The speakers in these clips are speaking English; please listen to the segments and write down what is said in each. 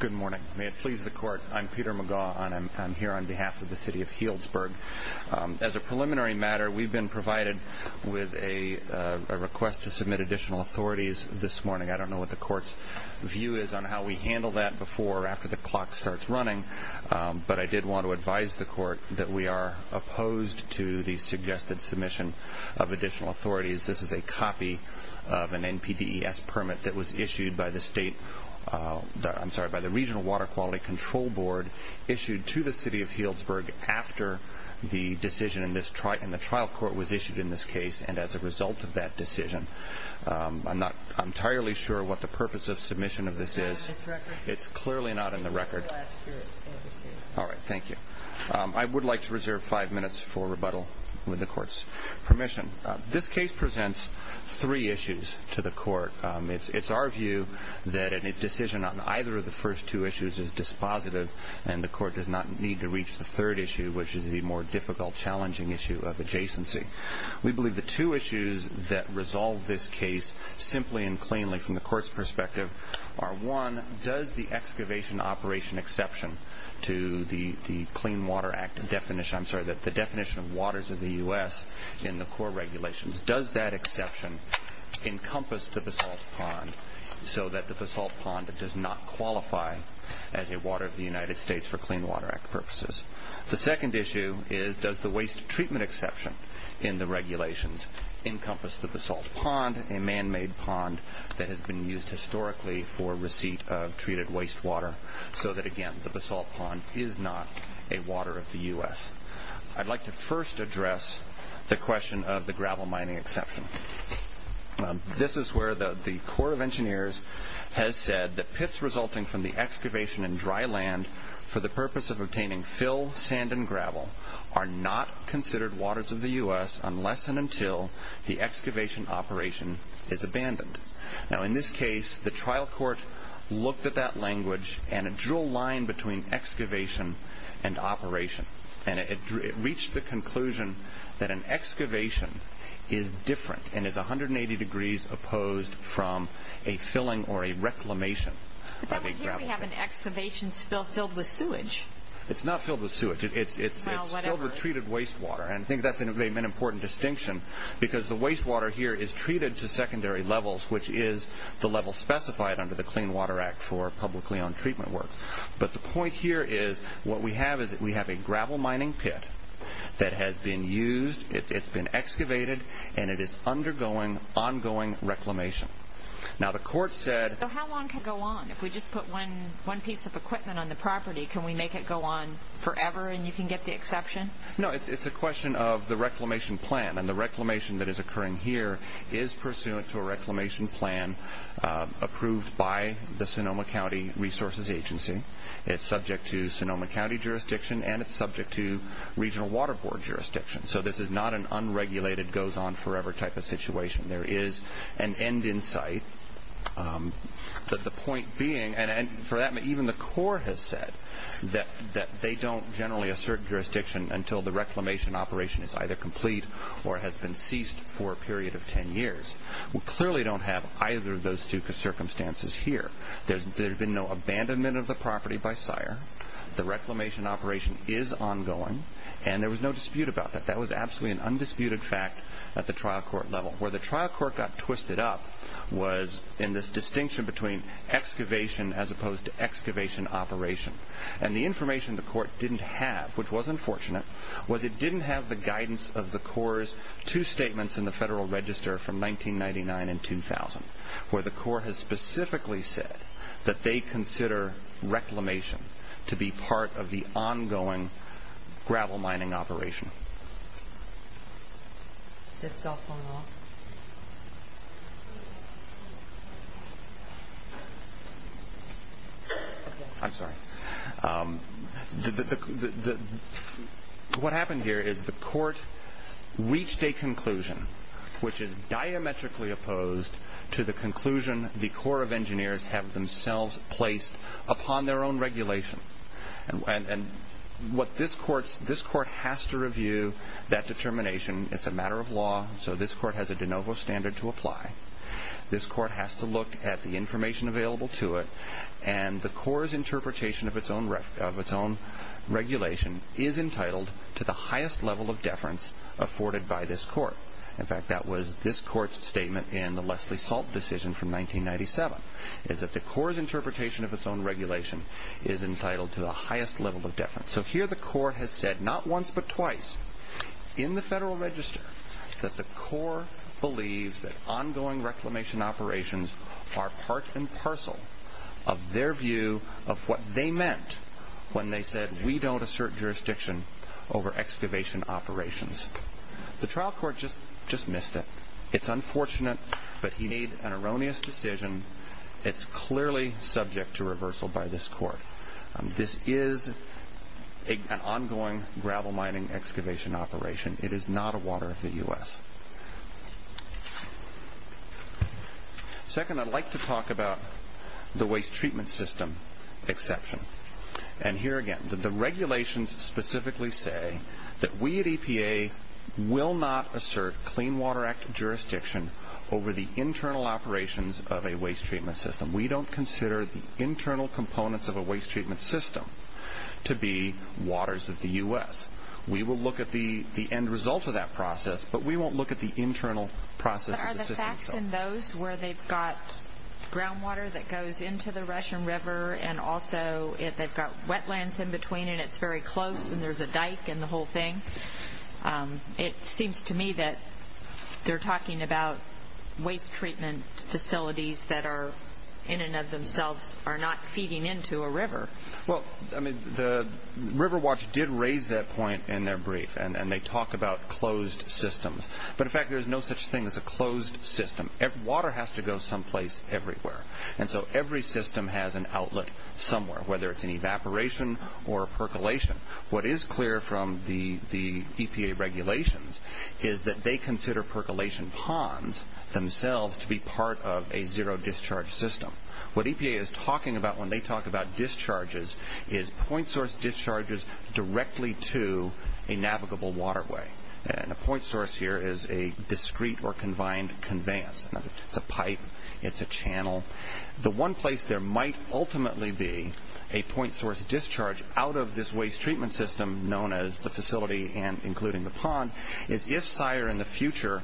Good morning. May it please the Court, I'm Peter Magaw and I'm here on behalf of the City of Healdsburg. As a preliminary matter, we've been provided with a request to submit additional authorities this morning. I don't know what the Court's view is on how we handle that before or after the clock starts running, but I did want to advise the Court that we are opposed to the suggested submission of additional authorities. This is a copy of an NPDES permit that was issued by the Regional Water Quality Control Board issued to the City of Healdsburg after the decision in the trial court was issued in this case, and as a result of that decision. I'm not entirely sure what the purpose of submission of this is. It's clearly not in the record. I would like to reserve five minutes for rebuttal with the Court's permission. This case presents three issues to the Court. It's our view that a decision on either of the first two issues is dispositive and the Court does not need to reach the third issue, which is the more difficult, challenging issue of adjacency. We believe the two issues that resolve this case simply and cleanly from the Court's perspective are One, does the excavation operation exception to the Clean Water Act definition I'm sorry, the definition of waters of the U.S. in the core regulations, does that exception encompass the basalt pond so that the basalt pond does not qualify as a water of the United States for Clean Water Act purposes? The second issue is does the waste treatment exception in the regulations encompass the basalt pond, a man-made pond that has been used historically for receipt of treated wastewater, so that, again, the basalt pond is not a water of the U.S.? I'd like to first address the question of the gravel mining exception. This is where the Court of Engineers has said that pits resulting from the excavation in dry land for the purpose of obtaining fill, sand, and gravel are not considered waters of the U.S. unless and until the excavation operation is abandoned. Now, in this case, the trial court looked at that language and it drew a line between excavation and operation. And it reached the conclusion that an excavation is different and is 180 degrees opposed from a filling or a reclamation of a gravel pit. But then we have an excavation spill filled with sewage. It's not filled with sewage. It's filled with treated wastewater. And I think that's an important distinction because the wastewater here is treated to secondary levels, which is the level specified under the Clean Water Act for publicly owned treatment work. But the point here is what we have is that we have a gravel mining pit that has been used, it's been excavated, and it is undergoing ongoing reclamation. Now, the court said— So how long can it go on? If we just put one piece of equipment on the property, can we make it go on forever and you can get the exception? No, it's a question of the reclamation plan. And the reclamation that is occurring here is pursuant to a reclamation plan approved by the Sonoma County Resources Agency. It's subject to Sonoma County jurisdiction and it's subject to regional water board jurisdiction. So this is not an unregulated, goes on forever type of situation. There is an end in sight. But the point being—and for that, even the court has said that they don't generally assert jurisdiction until the reclamation operation is either complete or has been ceased for a period of 10 years. We clearly don't have either of those two circumstances here. There's been no abandonment of the property by sire. The reclamation operation is ongoing, and there was no dispute about that. That was absolutely an undisputed fact at the trial court level. Where the trial court got twisted up was in this distinction between excavation as opposed to excavation operation. And the information the court didn't have, which was unfortunate, was it didn't have the guidance of the Corps' two statements in the Federal Register from 1999 and 2000 where the Corps has specifically said that they consider reclamation to be part of the ongoing gravel mining operation. Is that cell phone off? I'm sorry. What happened here is the court reached a conclusion which is diametrically opposed to the conclusion the Corps of Engineers have themselves placed upon their own regulation. And this court has to review that determination. It's a matter of law, so this court has a de novo standard to apply. This court has to look at the information available to it, and the Corps' interpretation of its own regulation is entitled to the highest level of deference afforded by this court. In fact, that was this court's statement in the Leslie Salt decision from 1997, is that the Corps' interpretation of its own regulation is entitled to the highest level of deference. So here the court has said not once but twice in the Federal Register that the Corps believes that ongoing reclamation operations are part and parcel of their view of what they meant when they said we don't assert jurisdiction over excavation operations. The trial court just missed it. It's unfortunate, but he made an erroneous decision. It's clearly subject to reversal by this court. This is an ongoing gravel mining excavation operation. It is not a water of the U.S. Second, I'd like to talk about the waste treatment system exception. And here again, the regulations specifically say that we at EPA will not assert Clean Water Act jurisdiction over the internal operations of a waste treatment system. We don't consider the internal components of a waste treatment system to be waters of the U.S. We will look at the end result of that process, but we won't look at the internal process of the system. But are the facts in those where they've got groundwater that goes into the Russian River and also they've got wetlands in between and it's very close and there's a dike and the whole thing, it seems to me that they're talking about waste treatment facilities that are in and of themselves are not feeding into a river. Well, I mean, the River Watch did raise that point in their brief, and they talk about closed systems. But in fact, there is no such thing as a closed system. Water has to go someplace everywhere. And so every system has an outlet somewhere, whether it's an evaporation or a percolation. What is clear from the EPA regulations is that they consider percolation ponds themselves to be part of a zero-discharge system. What EPA is talking about when they talk about discharges is point source discharges directly to a navigable waterway. And a point source here is a discrete or combined conveyance. It's a pipe. It's a channel. The one place there might ultimately be a point source discharge out of this waste treatment system known as the facility and including the pond is if Sire in the future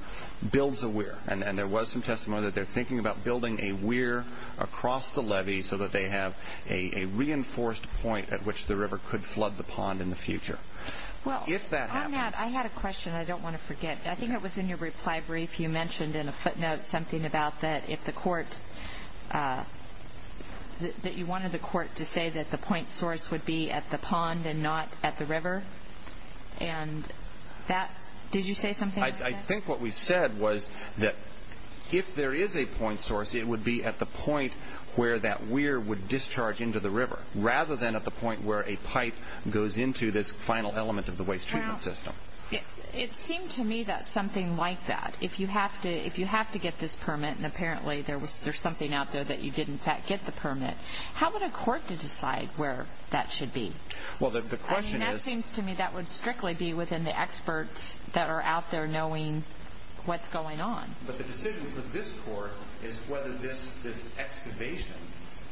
builds a weir. And there was some testimony that they're thinking about building a weir across the levee so that they have a reinforced point at which the river could flood the pond in the future. Well, I had a question I don't want to forget. I think it was in your reply brief you mentioned in a footnote something about that if the court, that you wanted the court to say that the point source would be at the pond and not at the river. And that, did you say something like that? I think what we said was that if there is a point source, it would be at the point where that weir would discharge into the river rather than at the point where a pipe goes into this final element of the waste treatment system. Now, it seemed to me that something like that, if you have to get this permit, and apparently there's something out there that you did in fact get the permit, how would a court decide where that should be? Well, the question is... That seems to me that would strictly be within the experts that are out there knowing what's going on. But the decision for this court is whether this excavation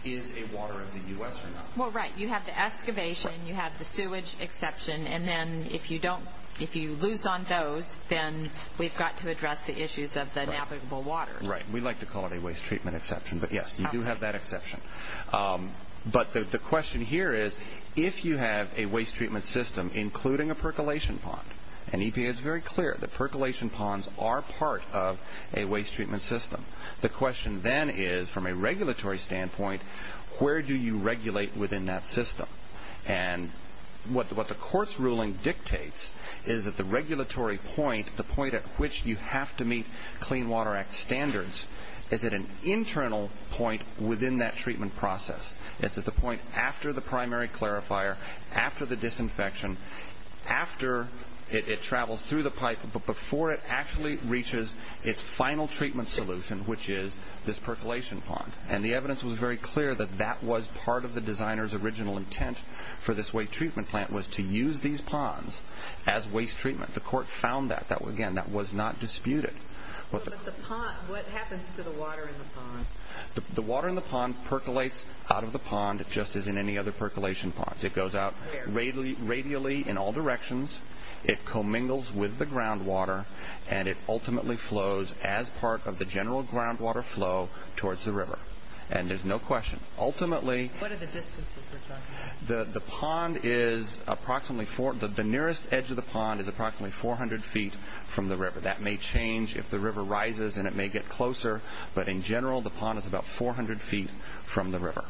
is a water of the U.S. or not. Well, right, you have the excavation, you have the sewage exception, and then if you lose on those, then we've got to address the issues of the navigable waters. Right, we like to call it a waste treatment exception, but yes, you do have that exception. But the question here is, if you have a waste treatment system including a percolation pond, and EPA is very clear that percolation ponds are part of a waste treatment system, the question then is, from a regulatory standpoint, where do you regulate within that system? And what the court's ruling dictates is that the regulatory point, the point at which you have to meet Clean Water Act standards, is at an internal point within that treatment process. It's at the point after the primary clarifier, after the disinfection, after it travels through the pipe, but before it actually reaches its final treatment solution, which is this percolation pond. And the evidence was very clear that that was part of the designer's original intent for this waste treatment plant was to use these ponds as waste treatment. The court found that. Again, that was not disputed. But the pond, what happens to the water in the pond? The water in the pond percolates out of the pond just as in any other percolation pond. It goes out radially in all directions. It commingles with the groundwater, and it ultimately flows as part of the general groundwater flow towards the river. And there's no question. Ultimately... What are the distances we're talking about? The pond is approximately 4... The nearest edge of the pond is approximately 400 feet from the river. That may change if the river rises, and it may get closer. But in general, the pond is about 400 feet from the river.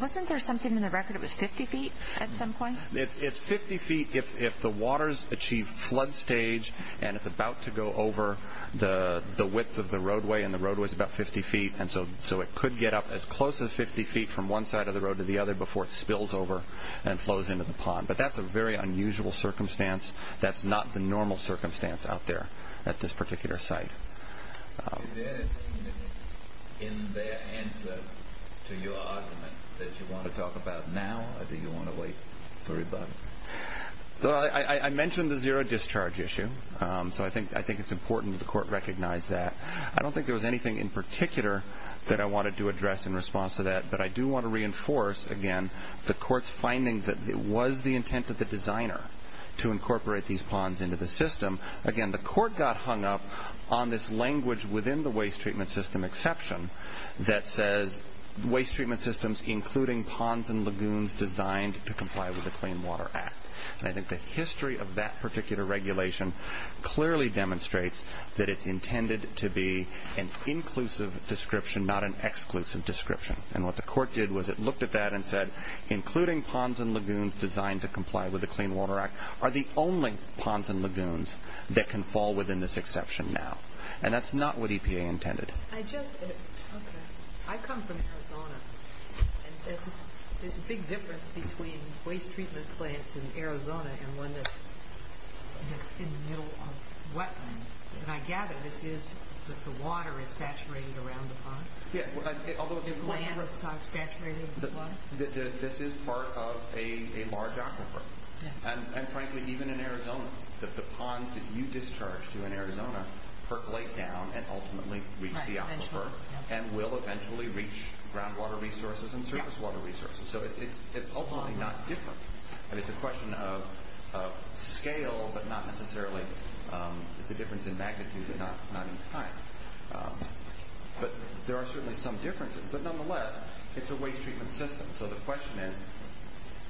Wasn't there something in the record that was 50 feet at some point? It's 50 feet if the water's achieved flood stage, and it's about to go over the width of the roadway, and the roadway's about 50 feet. And so it could get up as close as 50 feet from one side of the road to the other before it spills over and flows into the pond. But that's a very unusual circumstance. That's not the normal circumstance out there at this particular site. Is there anything in their answer to your argument that you want to talk about now, or do you want to wait for rebuttal? I mentioned the zero-discharge issue, so I think it's important that the court recognize that. I don't think there was anything in particular that I wanted to address in response to that, but I do want to reinforce, again, the court's finding that it was the intent of the designer to incorporate these ponds into the system. Again, the court got hung up on this language within the waste treatment system exception that says waste treatment systems including ponds and lagoons designed to comply with the Clean Water Act. And I think the history of that particular regulation clearly demonstrates that it's intended to be an inclusive description, not an exclusive description. And what the court did was it looked at that and said, including ponds and lagoons designed to comply with the Clean Water Act are the only ponds and lagoons that can fall within this exception now. And that's not what EPA intended. I come from Arizona, and there's a big difference between waste treatment plants in Arizona and one that's in the middle of wetlands. And I gather this is that the water is saturated around the pond? The land is saturated with water? This is part of a large aquifer. And frankly, even in Arizona, the ponds that you discharge to in Arizona percolate down and ultimately reach the aquifer and will eventually reach groundwater resources and surface water resources. So it's ultimately not different. It's a question of scale, but not necessarily the difference in magnitude, but not in time. But there are certainly some differences. But nonetheless, it's a waste treatment system. So the question is,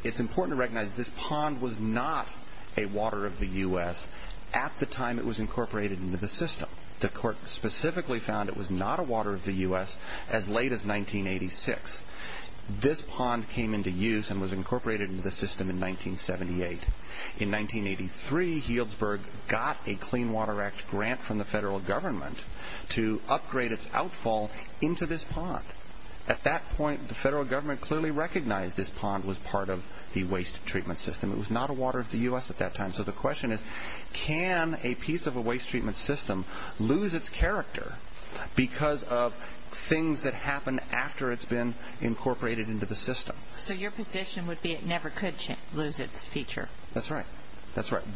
it's important to recognize this pond was not a water of the U.S. at the time it was incorporated into the system. The court specifically found it was not a water of the U.S. as late as 1986. This pond came into use and was incorporated into the system in 1978. In 1983, Healdsburg got a Clean Water Act grant from the federal government to upgrade its outfall into this pond. At that point, the federal government clearly recognized this pond was part of the waste treatment system. It was not a water of the U.S. at that time. So the question is, can a piece of a waste treatment system lose its character because of things that happen after it's been incorporated into the system? So your position would be it never could lose its feature. That's right.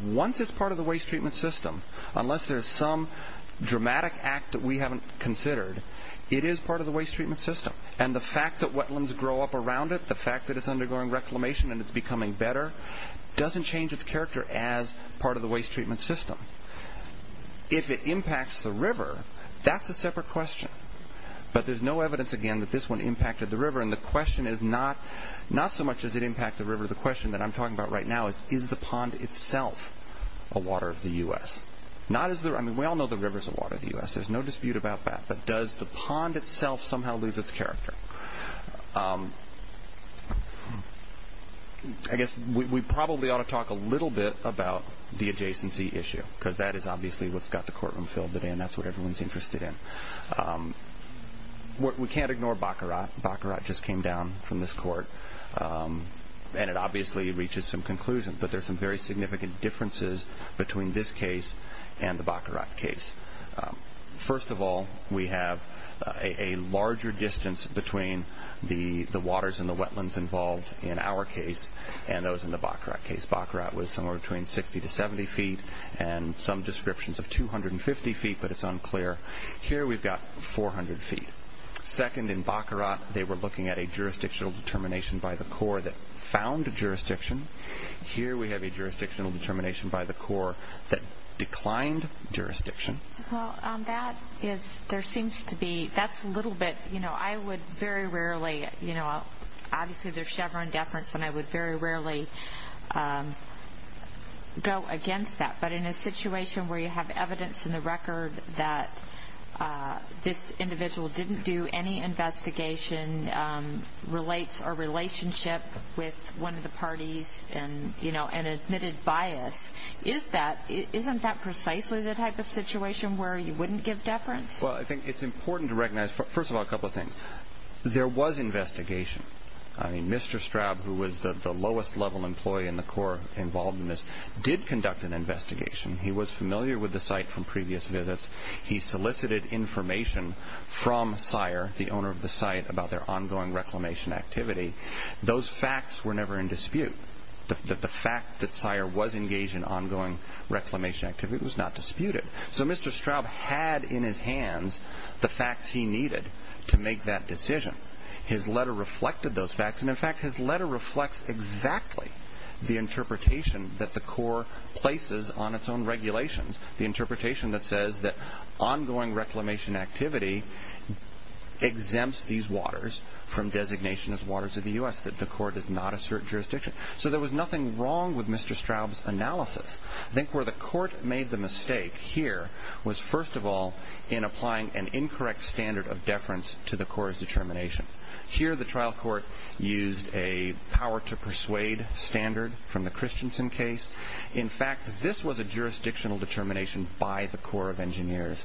Once it's part of the waste treatment system, unless there's some dramatic act that we haven't considered, it is part of the waste treatment system. And the fact that wetlands grow up around it, the fact that it's undergoing reclamation and it's becoming better doesn't change its character as part of the waste treatment system. If it impacts the river, that's a separate question. But there's no evidence, again, that this one impacted the river, and the question is not so much does it impact the river. The question that I'm talking about right now is, is the pond itself a water of the U.S.? I mean, we all know the river's a water of the U.S. There's no dispute about that. But does the pond itself somehow lose its character? I guess we probably ought to talk a little bit about the adjacency issue because that is obviously what's got the courtroom filled today, and that's what everyone's interested in. We can't ignore Baccarat. Baccarat just came down from this court, and it obviously reaches some conclusions, but there's some very significant differences between this case and the Baccarat case. First of all, we have a larger distance between the waters and the wetlands involved in our case and those in the Baccarat case. Baccarat was somewhere between 60 to 70 feet and some descriptions of 250 feet, but it's unclear. Here we've got 400 feet. Second, in Baccarat, they were looking at a jurisdictional determination by the Corps that found jurisdiction. Here we have a jurisdictional determination by the Corps that declined jurisdiction. Well, that is, there seems to be, that's a little bit, you know, I would very rarely, you know, obviously there's Chevron deference, and I would very rarely go against that. But in a situation where you have evidence in the record that this individual didn't do any investigation, relates a relationship with one of the parties, and, you know, an admitted bias, isn't that precisely the type of situation where you wouldn't give deference? Well, I think it's important to recognize, first of all, a couple of things. There was investigation. I mean, Mr. Straub, who was the lowest-level employee in the Corps involved in this, did conduct an investigation. He was familiar with the site from previous visits. He solicited information from Sire, the owner of the site, about their ongoing reclamation activity. Those facts were never in dispute. The fact that Sire was engaged in ongoing reclamation activity was not disputed. So Mr. Straub had in his hands the facts he needed to make that decision. His letter reflected those facts, and, in fact, his letter reflects exactly the interpretation that the Corps places on its own regulations, the interpretation that says that ongoing reclamation activity exempts these waters from designation as waters of the U.S., that the Corps does not assert jurisdiction. So there was nothing wrong with Mr. Straub's analysis. I think where the Court made the mistake here was, first of all, in applying an incorrect standard of deference to the Corps' determination. Here, the trial court used a power-to-persuade standard from the Christensen case. In fact, this was a jurisdictional determination by the Corps of Engineers.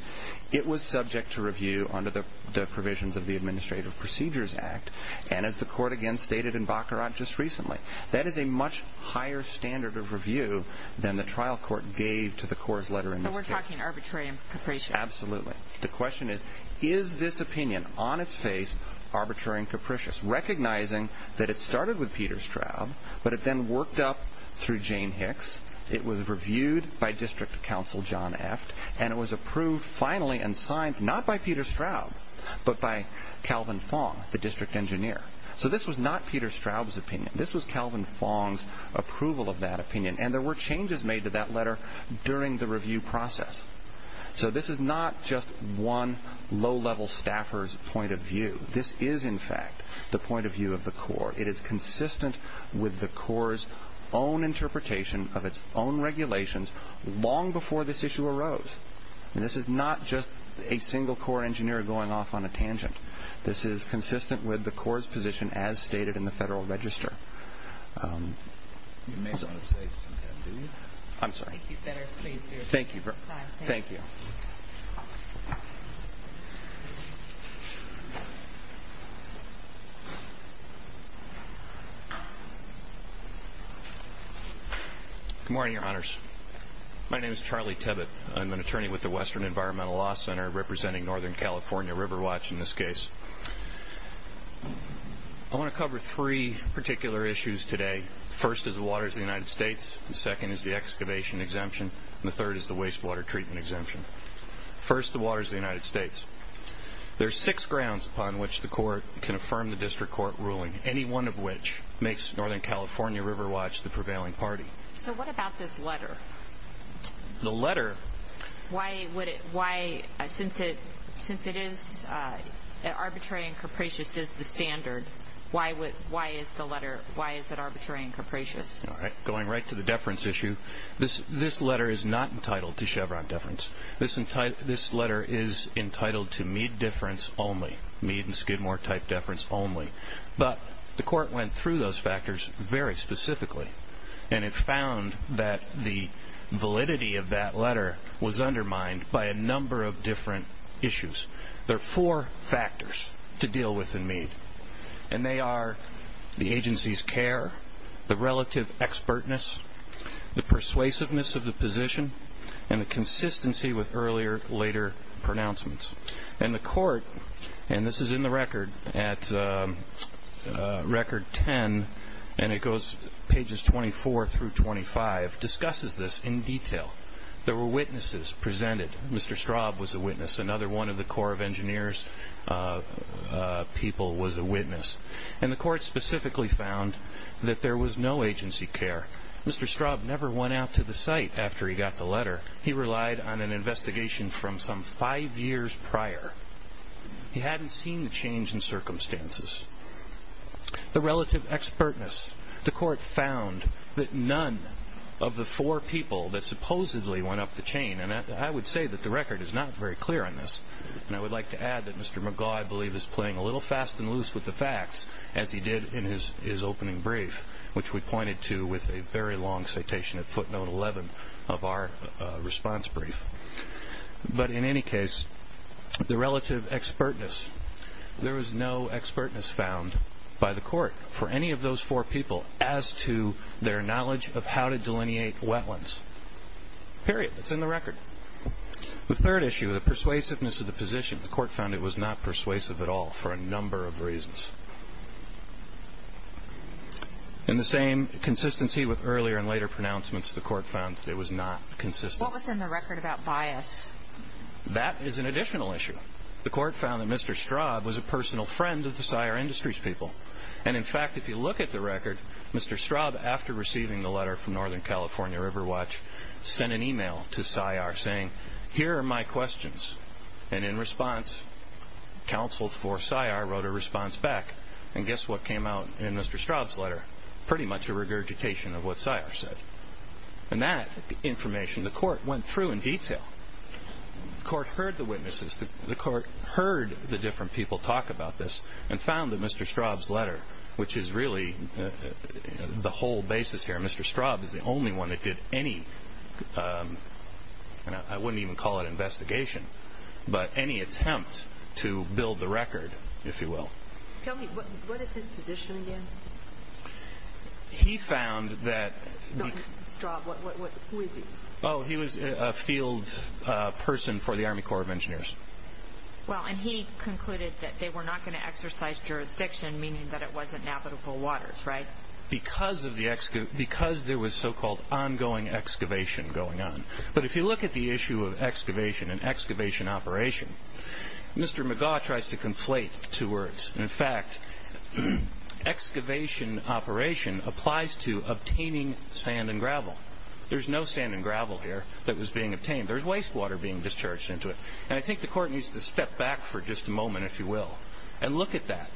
It was subject to review under the provisions of the Administrative Procedures Act, and, as the Court again stated in Baccarat just recently, that is a much higher standard of review than the trial court gave to the Corps' letter in this case. So we're talking arbitrary and capricious. Absolutely. The question is, is this opinion on its face arbitrary and capricious, recognizing that it started with Peter Straub, but it then worked up through Jane Hicks, it was reviewed by District Counsel John Eft, and it was approved finally and signed not by Peter Straub, but by Calvin Fong, the District Engineer. So this was not Peter Straub's opinion. This was Calvin Fong's approval of that opinion, and there were changes made to that letter during the review process. So this is not just one low-level staffer's point of view. This is, in fact, the point of view of the Corps. It is consistent with the Corps' own interpretation of its own regulations long before this issue arose. And this is not just a single Corps engineer going off on a tangent. This is consistent with the Corps' position as stated in the Federal Register. You may want to say something, do you? I'm sorry. Thank you. Thank you. Good morning, Your Honors. My name is Charlie Tibbitt. I'm an attorney with the Western Environmental Law Center representing Northern California River Watch in this case. I want to cover three particular issues today. The first is the waters of the United States, the second is the excavation exemption, and the third is the wastewater treatment exemption. First, the waters of the United States. There are six grounds upon which the Court can affirm the District Court ruling, any one of which makes Northern California River Watch the prevailing party. So what about this letter? The letter? Since it is arbitrary and capricious as the standard, why is it arbitrary and capricious? Going right to the deference issue, this letter is not entitled to Chevron deference. This letter is entitled to Mead deference only, Mead and Skidmore type deference only. But the Court went through those factors very specifically, and it found that the validity of that letter was undermined by a number of different issues. There are four factors to deal with in Mead, and they are the agency's care, the relative expertness, the persuasiveness of the position, and the consistency with earlier, later pronouncements. And the Court, and this is in the record at record 10, and it goes pages 24 through 25, discusses this in detail. There were witnesses presented. Mr. Straub was a witness. Another one of the Corps of Engineers people was a witness. And the Court specifically found that there was no agency care. Mr. Straub never went out to the site after he got the letter. He relied on an investigation from some five years prior. He hadn't seen the change in circumstances. The relative expertness. The Court found that none of the four people that supposedly went up the chain, and I would say that the record is not very clear on this, and I would like to add that Mr. McGaugh, I believe, is playing a little fast and loose with the facts, as he did in his opening brief, which we pointed to with a very long citation at footnote 11 of our response brief. But in any case, the relative expertness. There was no expertness found by the Court for any of those four people as to their knowledge of how to delineate wetlands. Period. It's in the record. The third issue, the persuasiveness of the position. The Court found it was not persuasive at all for a number of reasons. In the same consistency with earlier and later pronouncements, the Court found that it was not consistent. What was in the record about bias? That is an additional issue. The Court found that Mr. Straub was a personal friend of the SIAR Industries people. And in fact, if you look at the record, Mr. Straub, after receiving the letter from Northern California River Watch, sent an email to SIAR saying, here are my questions. And in response, counsel for SIAR wrote a response back. And guess what came out in Mr. Straub's letter? Pretty much a regurgitation of what SIAR said. And that information, the Court went through in detail. The Court heard the witnesses. The Court heard the different people talk about this and found that Mr. Straub's letter, which is really the whole basis here. Mr. Straub is the only one that did any, and I wouldn't even call it investigation, but any attempt to build the record, if you will. Tell me, what is his position again? He found that... Straub, who is he? Oh, he was a field person for the Army Corps of Engineers. Well, and he concluded that they were not going to exercise jurisdiction, meaning that it wasn't navigable waters, right? Because there was so-called ongoing excavation going on. But if you look at the issue of excavation and excavation operation, Mr. McGaugh tries to conflate the two words. In fact, excavation operation applies to obtaining sand and gravel. There's no sand and gravel here that was being obtained. There's wastewater being discharged into it. And I think the Court needs to step back for just a moment, if you will, and look at that.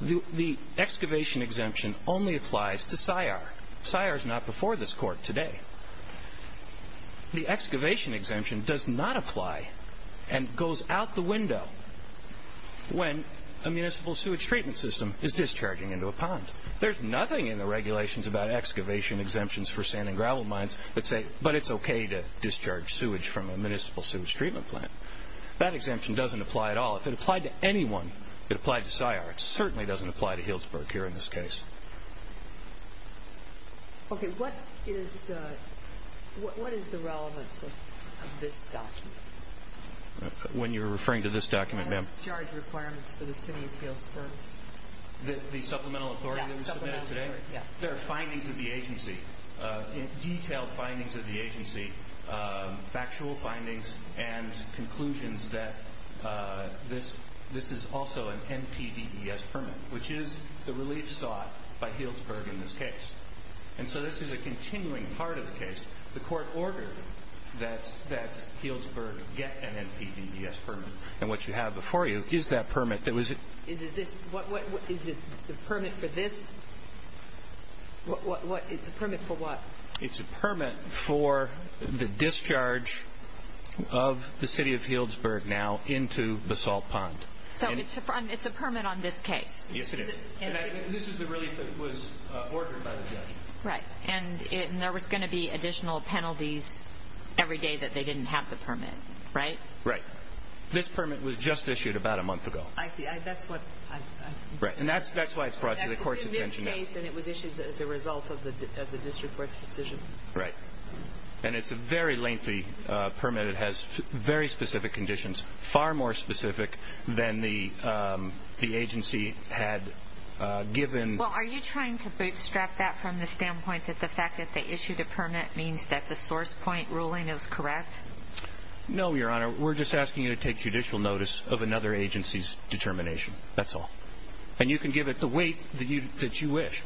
The excavation exemption only applies to SCI-R. SCI-R is not before this Court today. The excavation exemption does not apply and goes out the window when a municipal sewage treatment system is discharging into a pond. There's nothing in the regulations about excavation exemptions for sand and gravel mines that say, but it's okay to discharge sewage from a municipal sewage treatment plant. That exemption doesn't apply at all. If it applied to anyone, it applied to SCI-R. It certainly doesn't apply to Healdsburg here in this case. Okay, what is the relevance of this document? When you're referring to this document, ma'am? Discharge requirements for the city of Healdsburg. The supplemental authority that was submitted today? Yeah, supplemental authority, yeah. There are findings of the agency, detailed findings of the agency, factual findings and conclusions that this is also an NPDES permit, which is the relief sought by Healdsburg in this case. And so this is a continuing part of the case. The Court ordered that Healdsburg get an NPDES permit. And what you have before you is that permit. Is it the permit for this? It's a permit for what? It's a permit for the discharge of the city of Healdsburg now into Basalt Pond. So it's a permit on this case? Yes, it is. And this is the relief that was ordered by the judge. Right. And there was going to be additional penalties every day that they didn't have the permit, right? Right. This permit was just issued about a month ago. I see. That's why it's brought to the Court's attention now. It was raised and it was issued as a result of the district court's decision. Right. And it's a very lengthy permit. It has very specific conditions, far more specific than the agency had given. Well, are you trying to bootstrap that from the standpoint that the fact that they issued a permit means that the source point ruling is correct? No, Your Honor. We're just asking you to take judicial notice of another agency's determination. That's all. And you can give it the weight that you wish.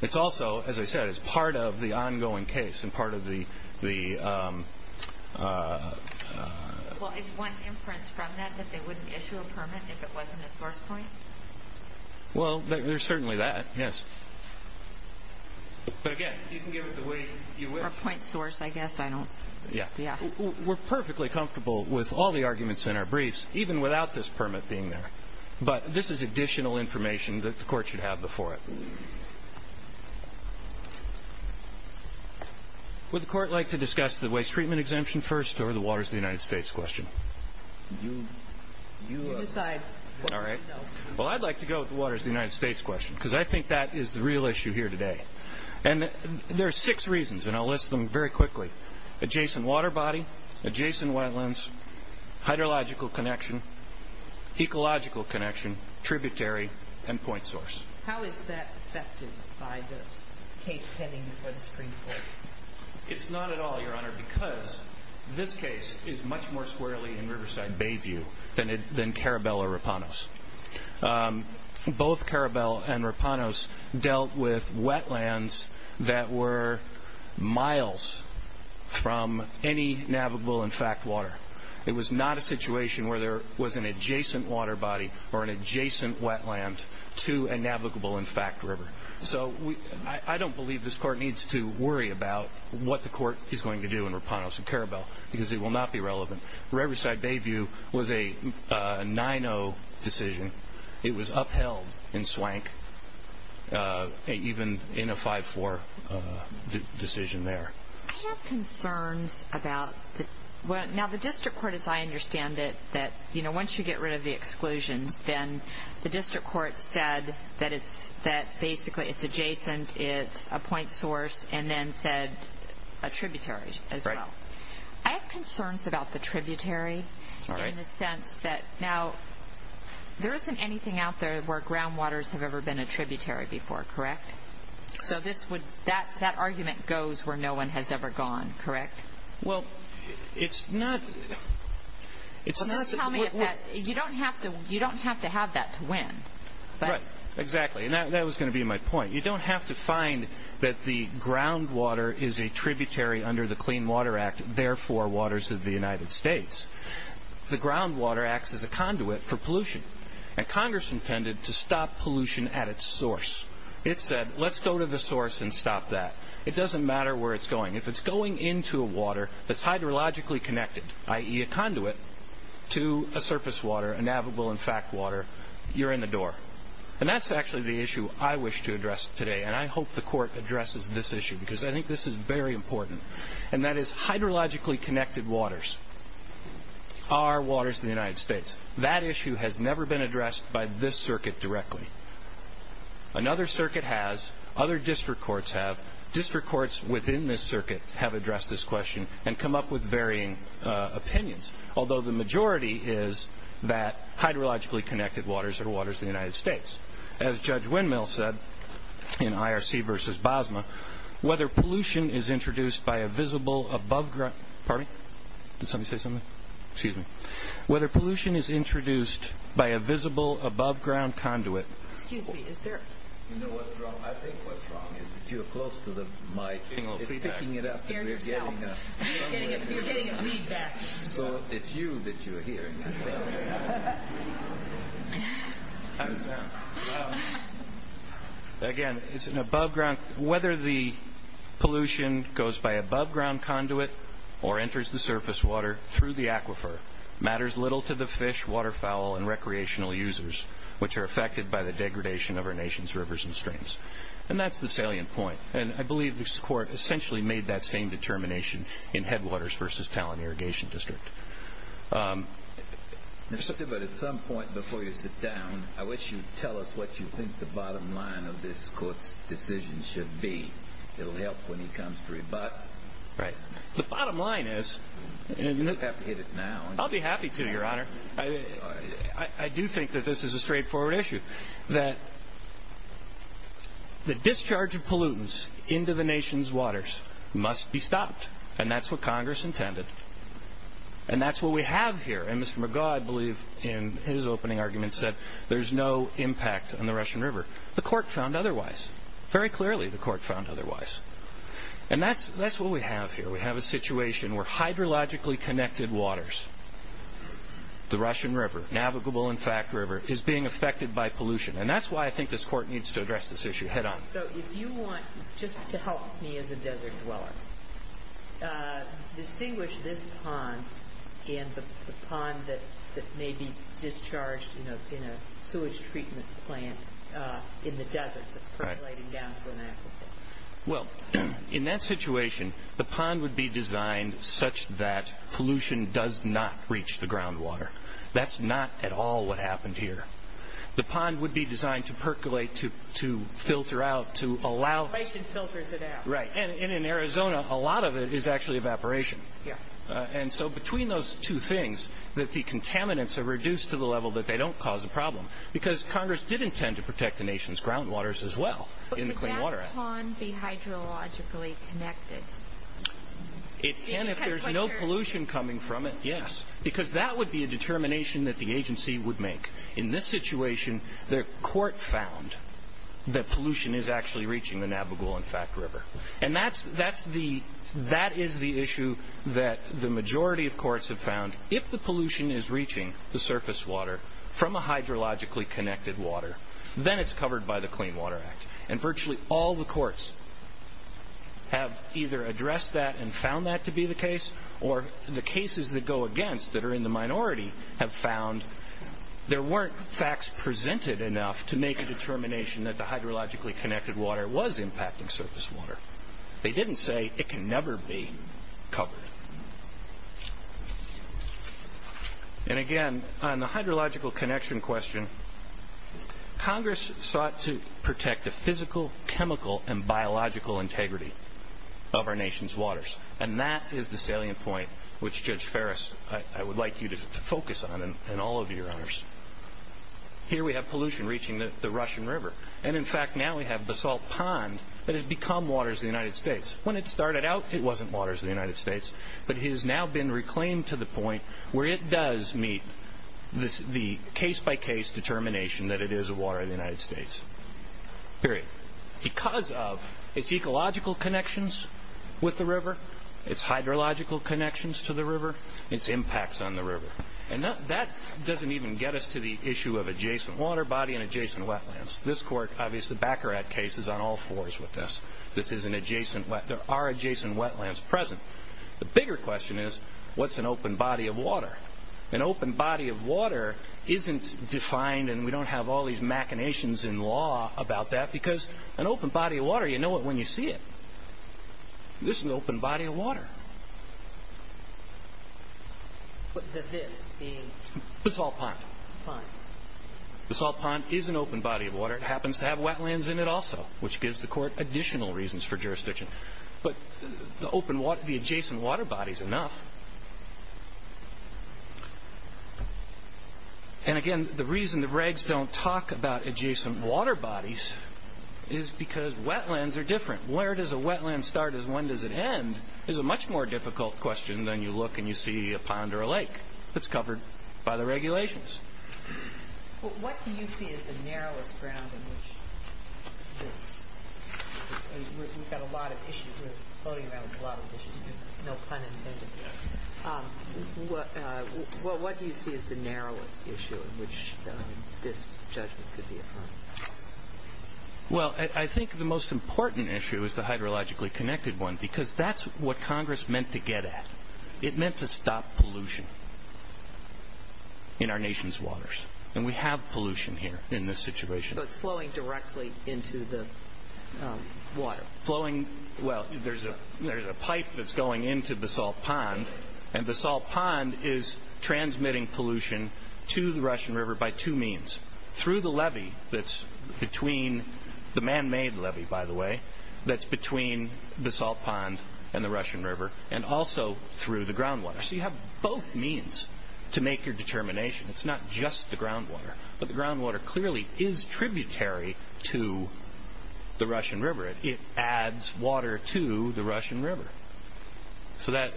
It's also, as I said, it's part of the ongoing case and part of the... Well, is one inference from that that they wouldn't issue a permit if it wasn't a source point? Well, there's certainly that, yes. But, again, you can give it the weight you wish. Or point source, I guess. Yeah. We're perfectly comfortable with all the arguments in our briefs, even without this permit being there. But this is additional information that the court should have before it. Would the court like to discuss the waste treatment exemption first or the Waters of the United States question? You decide. All right. Well, I'd like to go with the Waters of the United States question because I think that is the real issue here today. And there are six reasons, and I'll list them very quickly. Adjacent water body, adjacent wetlands, hydrological connection, ecological connection, tributary, and point source. How is that affected by this case heading for the Supreme Court? It's not at all, Your Honor, because this case is much more squarely in Riverside Bayview than Carabel or Rapanos. Both Carabel and Rapanos dealt with wetlands that were miles from any navigable, in fact, water. It was not a situation where there was an adjacent water body or an adjacent wetland to a navigable, in fact, river. So I don't believe this court needs to worry about what the court is going to do in Rapanos and Carabel because it will not be relevant. Riverside Bayview was a 9-0 decision. It was upheld in Swank, even in a 5-4 decision there. I have concerns about the district court, as I understand it, that once you get rid of the exclusions, then the district court said that basically it's adjacent, it's a point source, and then said a tributary as well. I have concerns about the tributary in the sense that, now, there isn't anything out there where groundwaters have ever been a tributary before, correct? So that argument goes where no one has ever gone, correct? Well, it's not... Just tell me, you don't have to have that to win. Right, exactly, and that was going to be my point. You don't have to find that the groundwater is a tributary under the Clean Water Act, therefore waters of the United States. The groundwater acts as a conduit for pollution, and Congress intended to stop pollution at its source. It said, let's go to the source and stop that. It doesn't matter where it's going. If it's going into a water that's hydrologically connected, i.e. a conduit, to a surface water, a navigable and fact water, you're in the door. And that's actually the issue I wish to address today, and I hope the court addresses this issue because I think this is very important, and that is hydrologically connected waters are waters of the United States. That issue has never been addressed by this circuit directly. Another circuit has. Other district courts have. District courts within this circuit have addressed this question and come up with varying opinions, although the majority is that hydrologically connected waters are waters of the United States. As Judge Windmill said in IRC v. Bosma, whether pollution is introduced by a visible above-ground... Pardon me? Did somebody say something? Excuse me. Whether pollution is introduced by a visible above-ground conduit... Excuse me, is there... You know what's wrong? I think what's wrong is that you're close to the mic. You're picking it up and we're getting a... You're getting a readback. So it's you that you're hearing. Again, it's an above-ground... Whether the pollution goes by above-ground conduit or enters the surface water through the aquifer matters little to the fish, waterfowl, and recreational users which are affected by the degradation of our nation's rivers and streams. And that's the salient point. And I believe this court essentially made that same determination in Headwaters v. Talon Irrigation District. But at some point before you sit down, I wish you'd tell us what you think the bottom line of this court's decision should be. It'll help when he comes to rebut. Right. The bottom line is... You have to hit it now. I'll be happy to, Your Honor. I do think that this is a straightforward issue. That the discharge of pollutants into the nation's waters must be stopped. And that's what Congress intended. And that's what we have here. And Mr. McGaugh, I believe, in his opening argument, said there's no impact on the Russian River. The court found otherwise. Very clearly the court found otherwise. And that's what we have here. We have a situation where hydrologically connected waters, the Russian River, navigable, in fact, river, is being affected by pollution. And that's why I think this court needs to address this issue head-on. So if you want, just to help me as a desert dweller, distinguish this pond and the pond that may be discharged in a sewage treatment plant in the desert that's percolating down to an aquifer. Well, in that situation, the pond would be designed such that pollution does not reach the groundwater. That's not at all what happened here. The pond would be designed to percolate, to filter out, to allow. Evaporation filters it out. Right. And in Arizona, a lot of it is actually evaporation. Yeah. And so between those two things, that the contaminants are reduced to the level that they don't cause a problem. Because Congress did intend to protect the nation's groundwaters as well in the Clean Water Act. But could that pond be hydrologically connected? It can if there's no pollution coming from it, yes. Because that would be a determination that the agency would make. In this situation, the court found that pollution is actually reaching the navigable, in fact, river. And that is the issue that the majority of courts have found. If the pollution is reaching the surface water from a hydrologically connected water, then it's covered by the Clean Water Act. And virtually all the courts have either addressed that and found that to be the case, or the cases that go against that are in the minority have found there weren't facts presented enough to make a determination that the hydrologically connected water was impacting surface water. They didn't say it can never be covered. And, again, on the hydrological connection question, Congress sought to protect the physical, chemical, and biological integrity of our nation's waters. And that is the salient point which, Judge Ferris, I would like you to focus on and all of you, Your Honors. Here we have pollution reaching the Russian River. And, in fact, now we have Basalt Pond that has become waters of the United States. When it started out, it wasn't waters of the United States. But it has now been reclaimed to the point where it does meet the case-by-case determination that it is a water of the United States. Period. Because of its ecological connections with the river, its hydrological connections to the river, its impacts on the river. And that doesn't even get us to the issue of adjacent water body and adjacent wetlands. This Court, obviously, the Baccarat case is on all fours with this. This is an adjacent wetland. There are adjacent wetlands present. The bigger question is, what's an open body of water? An open body of water isn't defined and we don't have all these machinations in law about that. Because an open body of water, you know it when you see it. This is an open body of water. Would the this be? Basalt Pond. Basalt Pond is an open body of water. It happens to have wetlands in it also, which gives the Court additional reasons for jurisdiction. But the adjacent water body is enough. And, again, the reason the regs don't talk about adjacent water bodies is because wetlands are different. Where does a wetland start and when does it end is a much more difficult question than you look and you see a pond or a lake that's covered by the regulations. Well, what do you see as the narrowest ground in which this? We've got a lot of issues. We're floating around with a lot of issues here. No pun intended here. Well, what do you see as the narrowest issue in which this judgment could be affirmed? Well, I think the most important issue is the hydrologically connected one because that's what Congress meant to get at. It meant to stop pollution in our nation's waters. And we have pollution here in this situation. So it's flowing directly into the water? Well, there's a pipe that's going into Basalt Pond, and Basalt Pond is transmitting pollution to the Russian River by two means. Through the levee that's between the man-made levee, by the way, that's through the groundwater. So you have both means to make your determination. It's not just the groundwater. But the groundwater clearly is tributary to the Russian River. It adds water to the Russian River. So there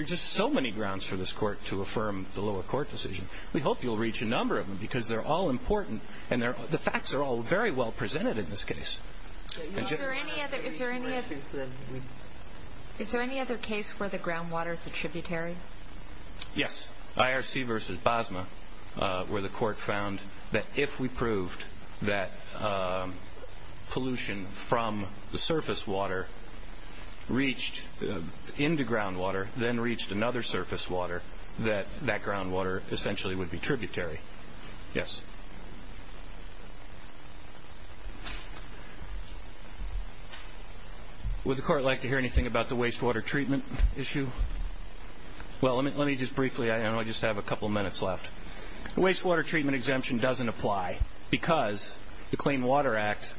are just so many grounds for this court to affirm the lower court decision. We hope you'll reach a number of them because they're all important and the facts are all very well presented in this case. Is there any other case where the groundwater is a tributary? Yes. IRC versus BASMA where the court found that if we proved that pollution from the surface water reached into groundwater, then reached another surface water, that that groundwater essentially would be tributary. Yes. Would the court like to hear anything about the wastewater treatment issue? Well, let me just briefly, I know I just have a couple minutes left. Wastewater treatment exemption doesn't apply because the Clean Water Act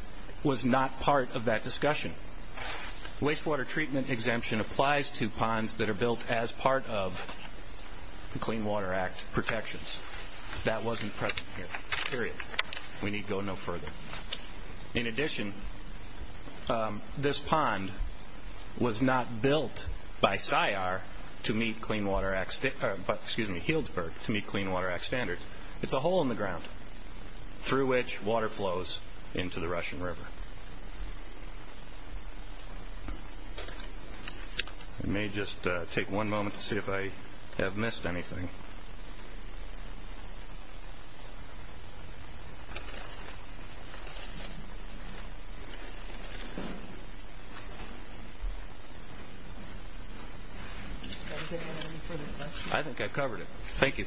was not part of that discussion. Wastewater treatment exemption applies to ponds that are built as part of the Clean Water Act protections. That wasn't present here, period. We need to go no further. In addition, this pond was not built by CYAR to meet Clean Water Act, excuse me, Healdsburg to meet Clean Water Act standards. It's a hole in the ground through which water flows into the Russian River. It may just take one moment to see if I have missed anything. I think I covered it. Thank you.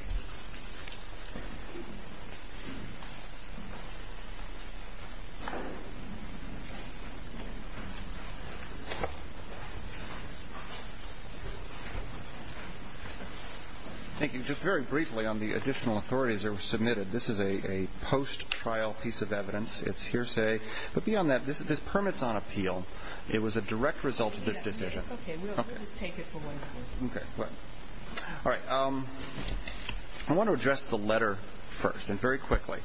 Thank you. Just very briefly on the additional authorities that were submitted. This is a post-trial piece of evidence. It's hearsay. But beyond that, this permit's on appeal. It was a direct result of this decision. It's okay. We'll just take it for what it's worth. Okay. All right. I want to address the letter first and very quickly.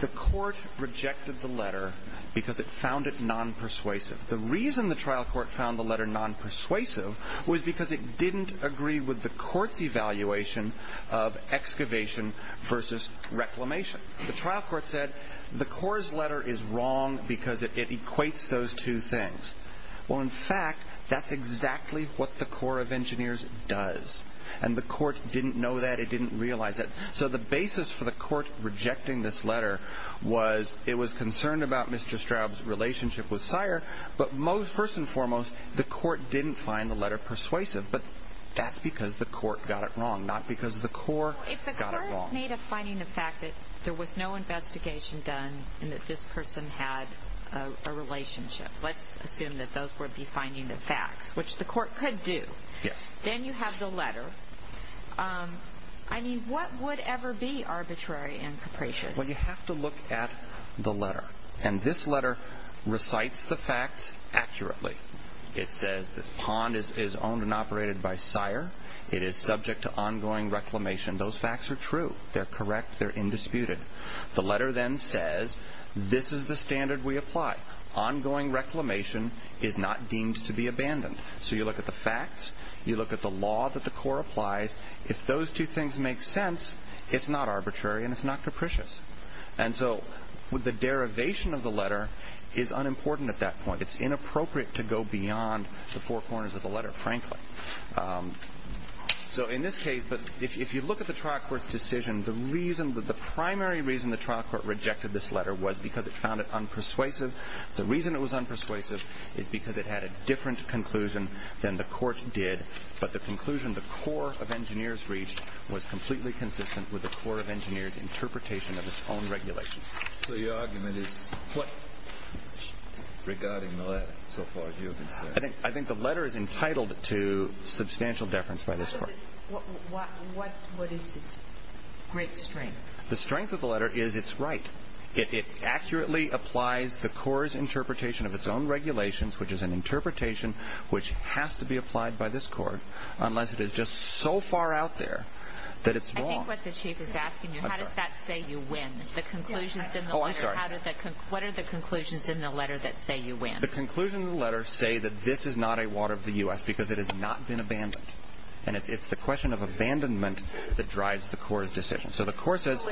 The court rejected the letter because it found it non-persuasive. The reason the trial court found the letter non-persuasive was because it The trial court said the Corps' letter is wrong because it equates those two things. Well, in fact, that's exactly what the Corps of Engineers does. And the court didn't know that. It didn't realize it. So the basis for the court rejecting this letter was it was concerned about Mr. Straub's relationship with CYAR. But first and foremost, the court didn't find the letter persuasive. But that's because the court got it wrong, not because the Corps got it wrong. In the state of finding the fact that there was no investigation done and that this person had a relationship, let's assume that those would be finding the facts, which the court could do. Yes. Then you have the letter. I mean, what would ever be arbitrary and capricious? Well, you have to look at the letter. And this letter recites the facts accurately. It says this pond is owned and operated by CYAR. It is subject to ongoing reclamation. Those facts are true. They're correct. They're indisputed. The letter then says this is the standard we apply. Ongoing reclamation is not deemed to be abandoned. So you look at the facts. You look at the law that the Corps applies. If those two things make sense, it's not arbitrary and it's not capricious. And so the derivation of the letter is unimportant at that point. It's inappropriate to go beyond the four corners of the letter, frankly. So in this case, if you look at the trial court's decision, the primary reason the trial court rejected this letter was because it found it unpersuasive. The reason it was unpersuasive is because it had a different conclusion than the court did, but the conclusion the Corps of Engineers reached was completely consistent with the Corps of Engineers' interpretation of its own regulations. So your argument is regarding the letter, so far as you can say. I think the letter is entitled to substantial deference by this court. What is its great strength? The strength of the letter is it's right. It accurately applies the Corps' interpretation of its own regulations, which is an interpretation which has to be applied by this court, unless it is just so far out there that it's wrong. I think what the chief is asking you, how does that say you win? The conclusions in the letter, what are the conclusions in the letter that say you win? The conclusions in the letter say that this is not a water of the U.S. because it has not been abandoned, and it's the question of abandonment that drives the Corps' decision. So the Corps says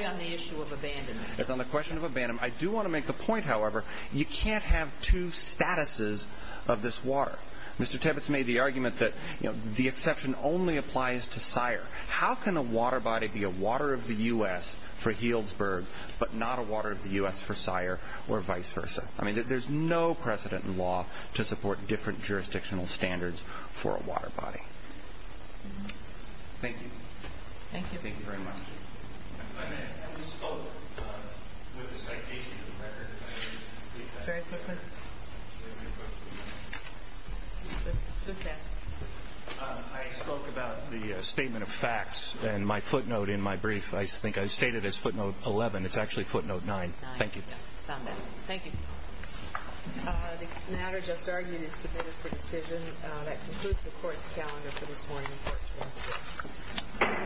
it's on the question of abandonment. I do want to make the point, however, you can't have two statuses of this water. Mr. Tibbets made the argument that the exception only applies to Syre. How can a water body be a water of the U.S. for Healdsburg, but not a water of the U.S. for Syre, or vice versa? I mean, there's no precedent in law to support different jurisdictional standards for a water body. Thank you. Thank you. Thank you very much. I spoke with a citation of the record. Very quickly. I spoke about the statement of facts, and my footnote in my brief, I think I stated as footnote 11. It's actually footnote 9. Thank you. The matter just argued is submitted for decision. That concludes the Court's calendar for this morning's Court's resolution.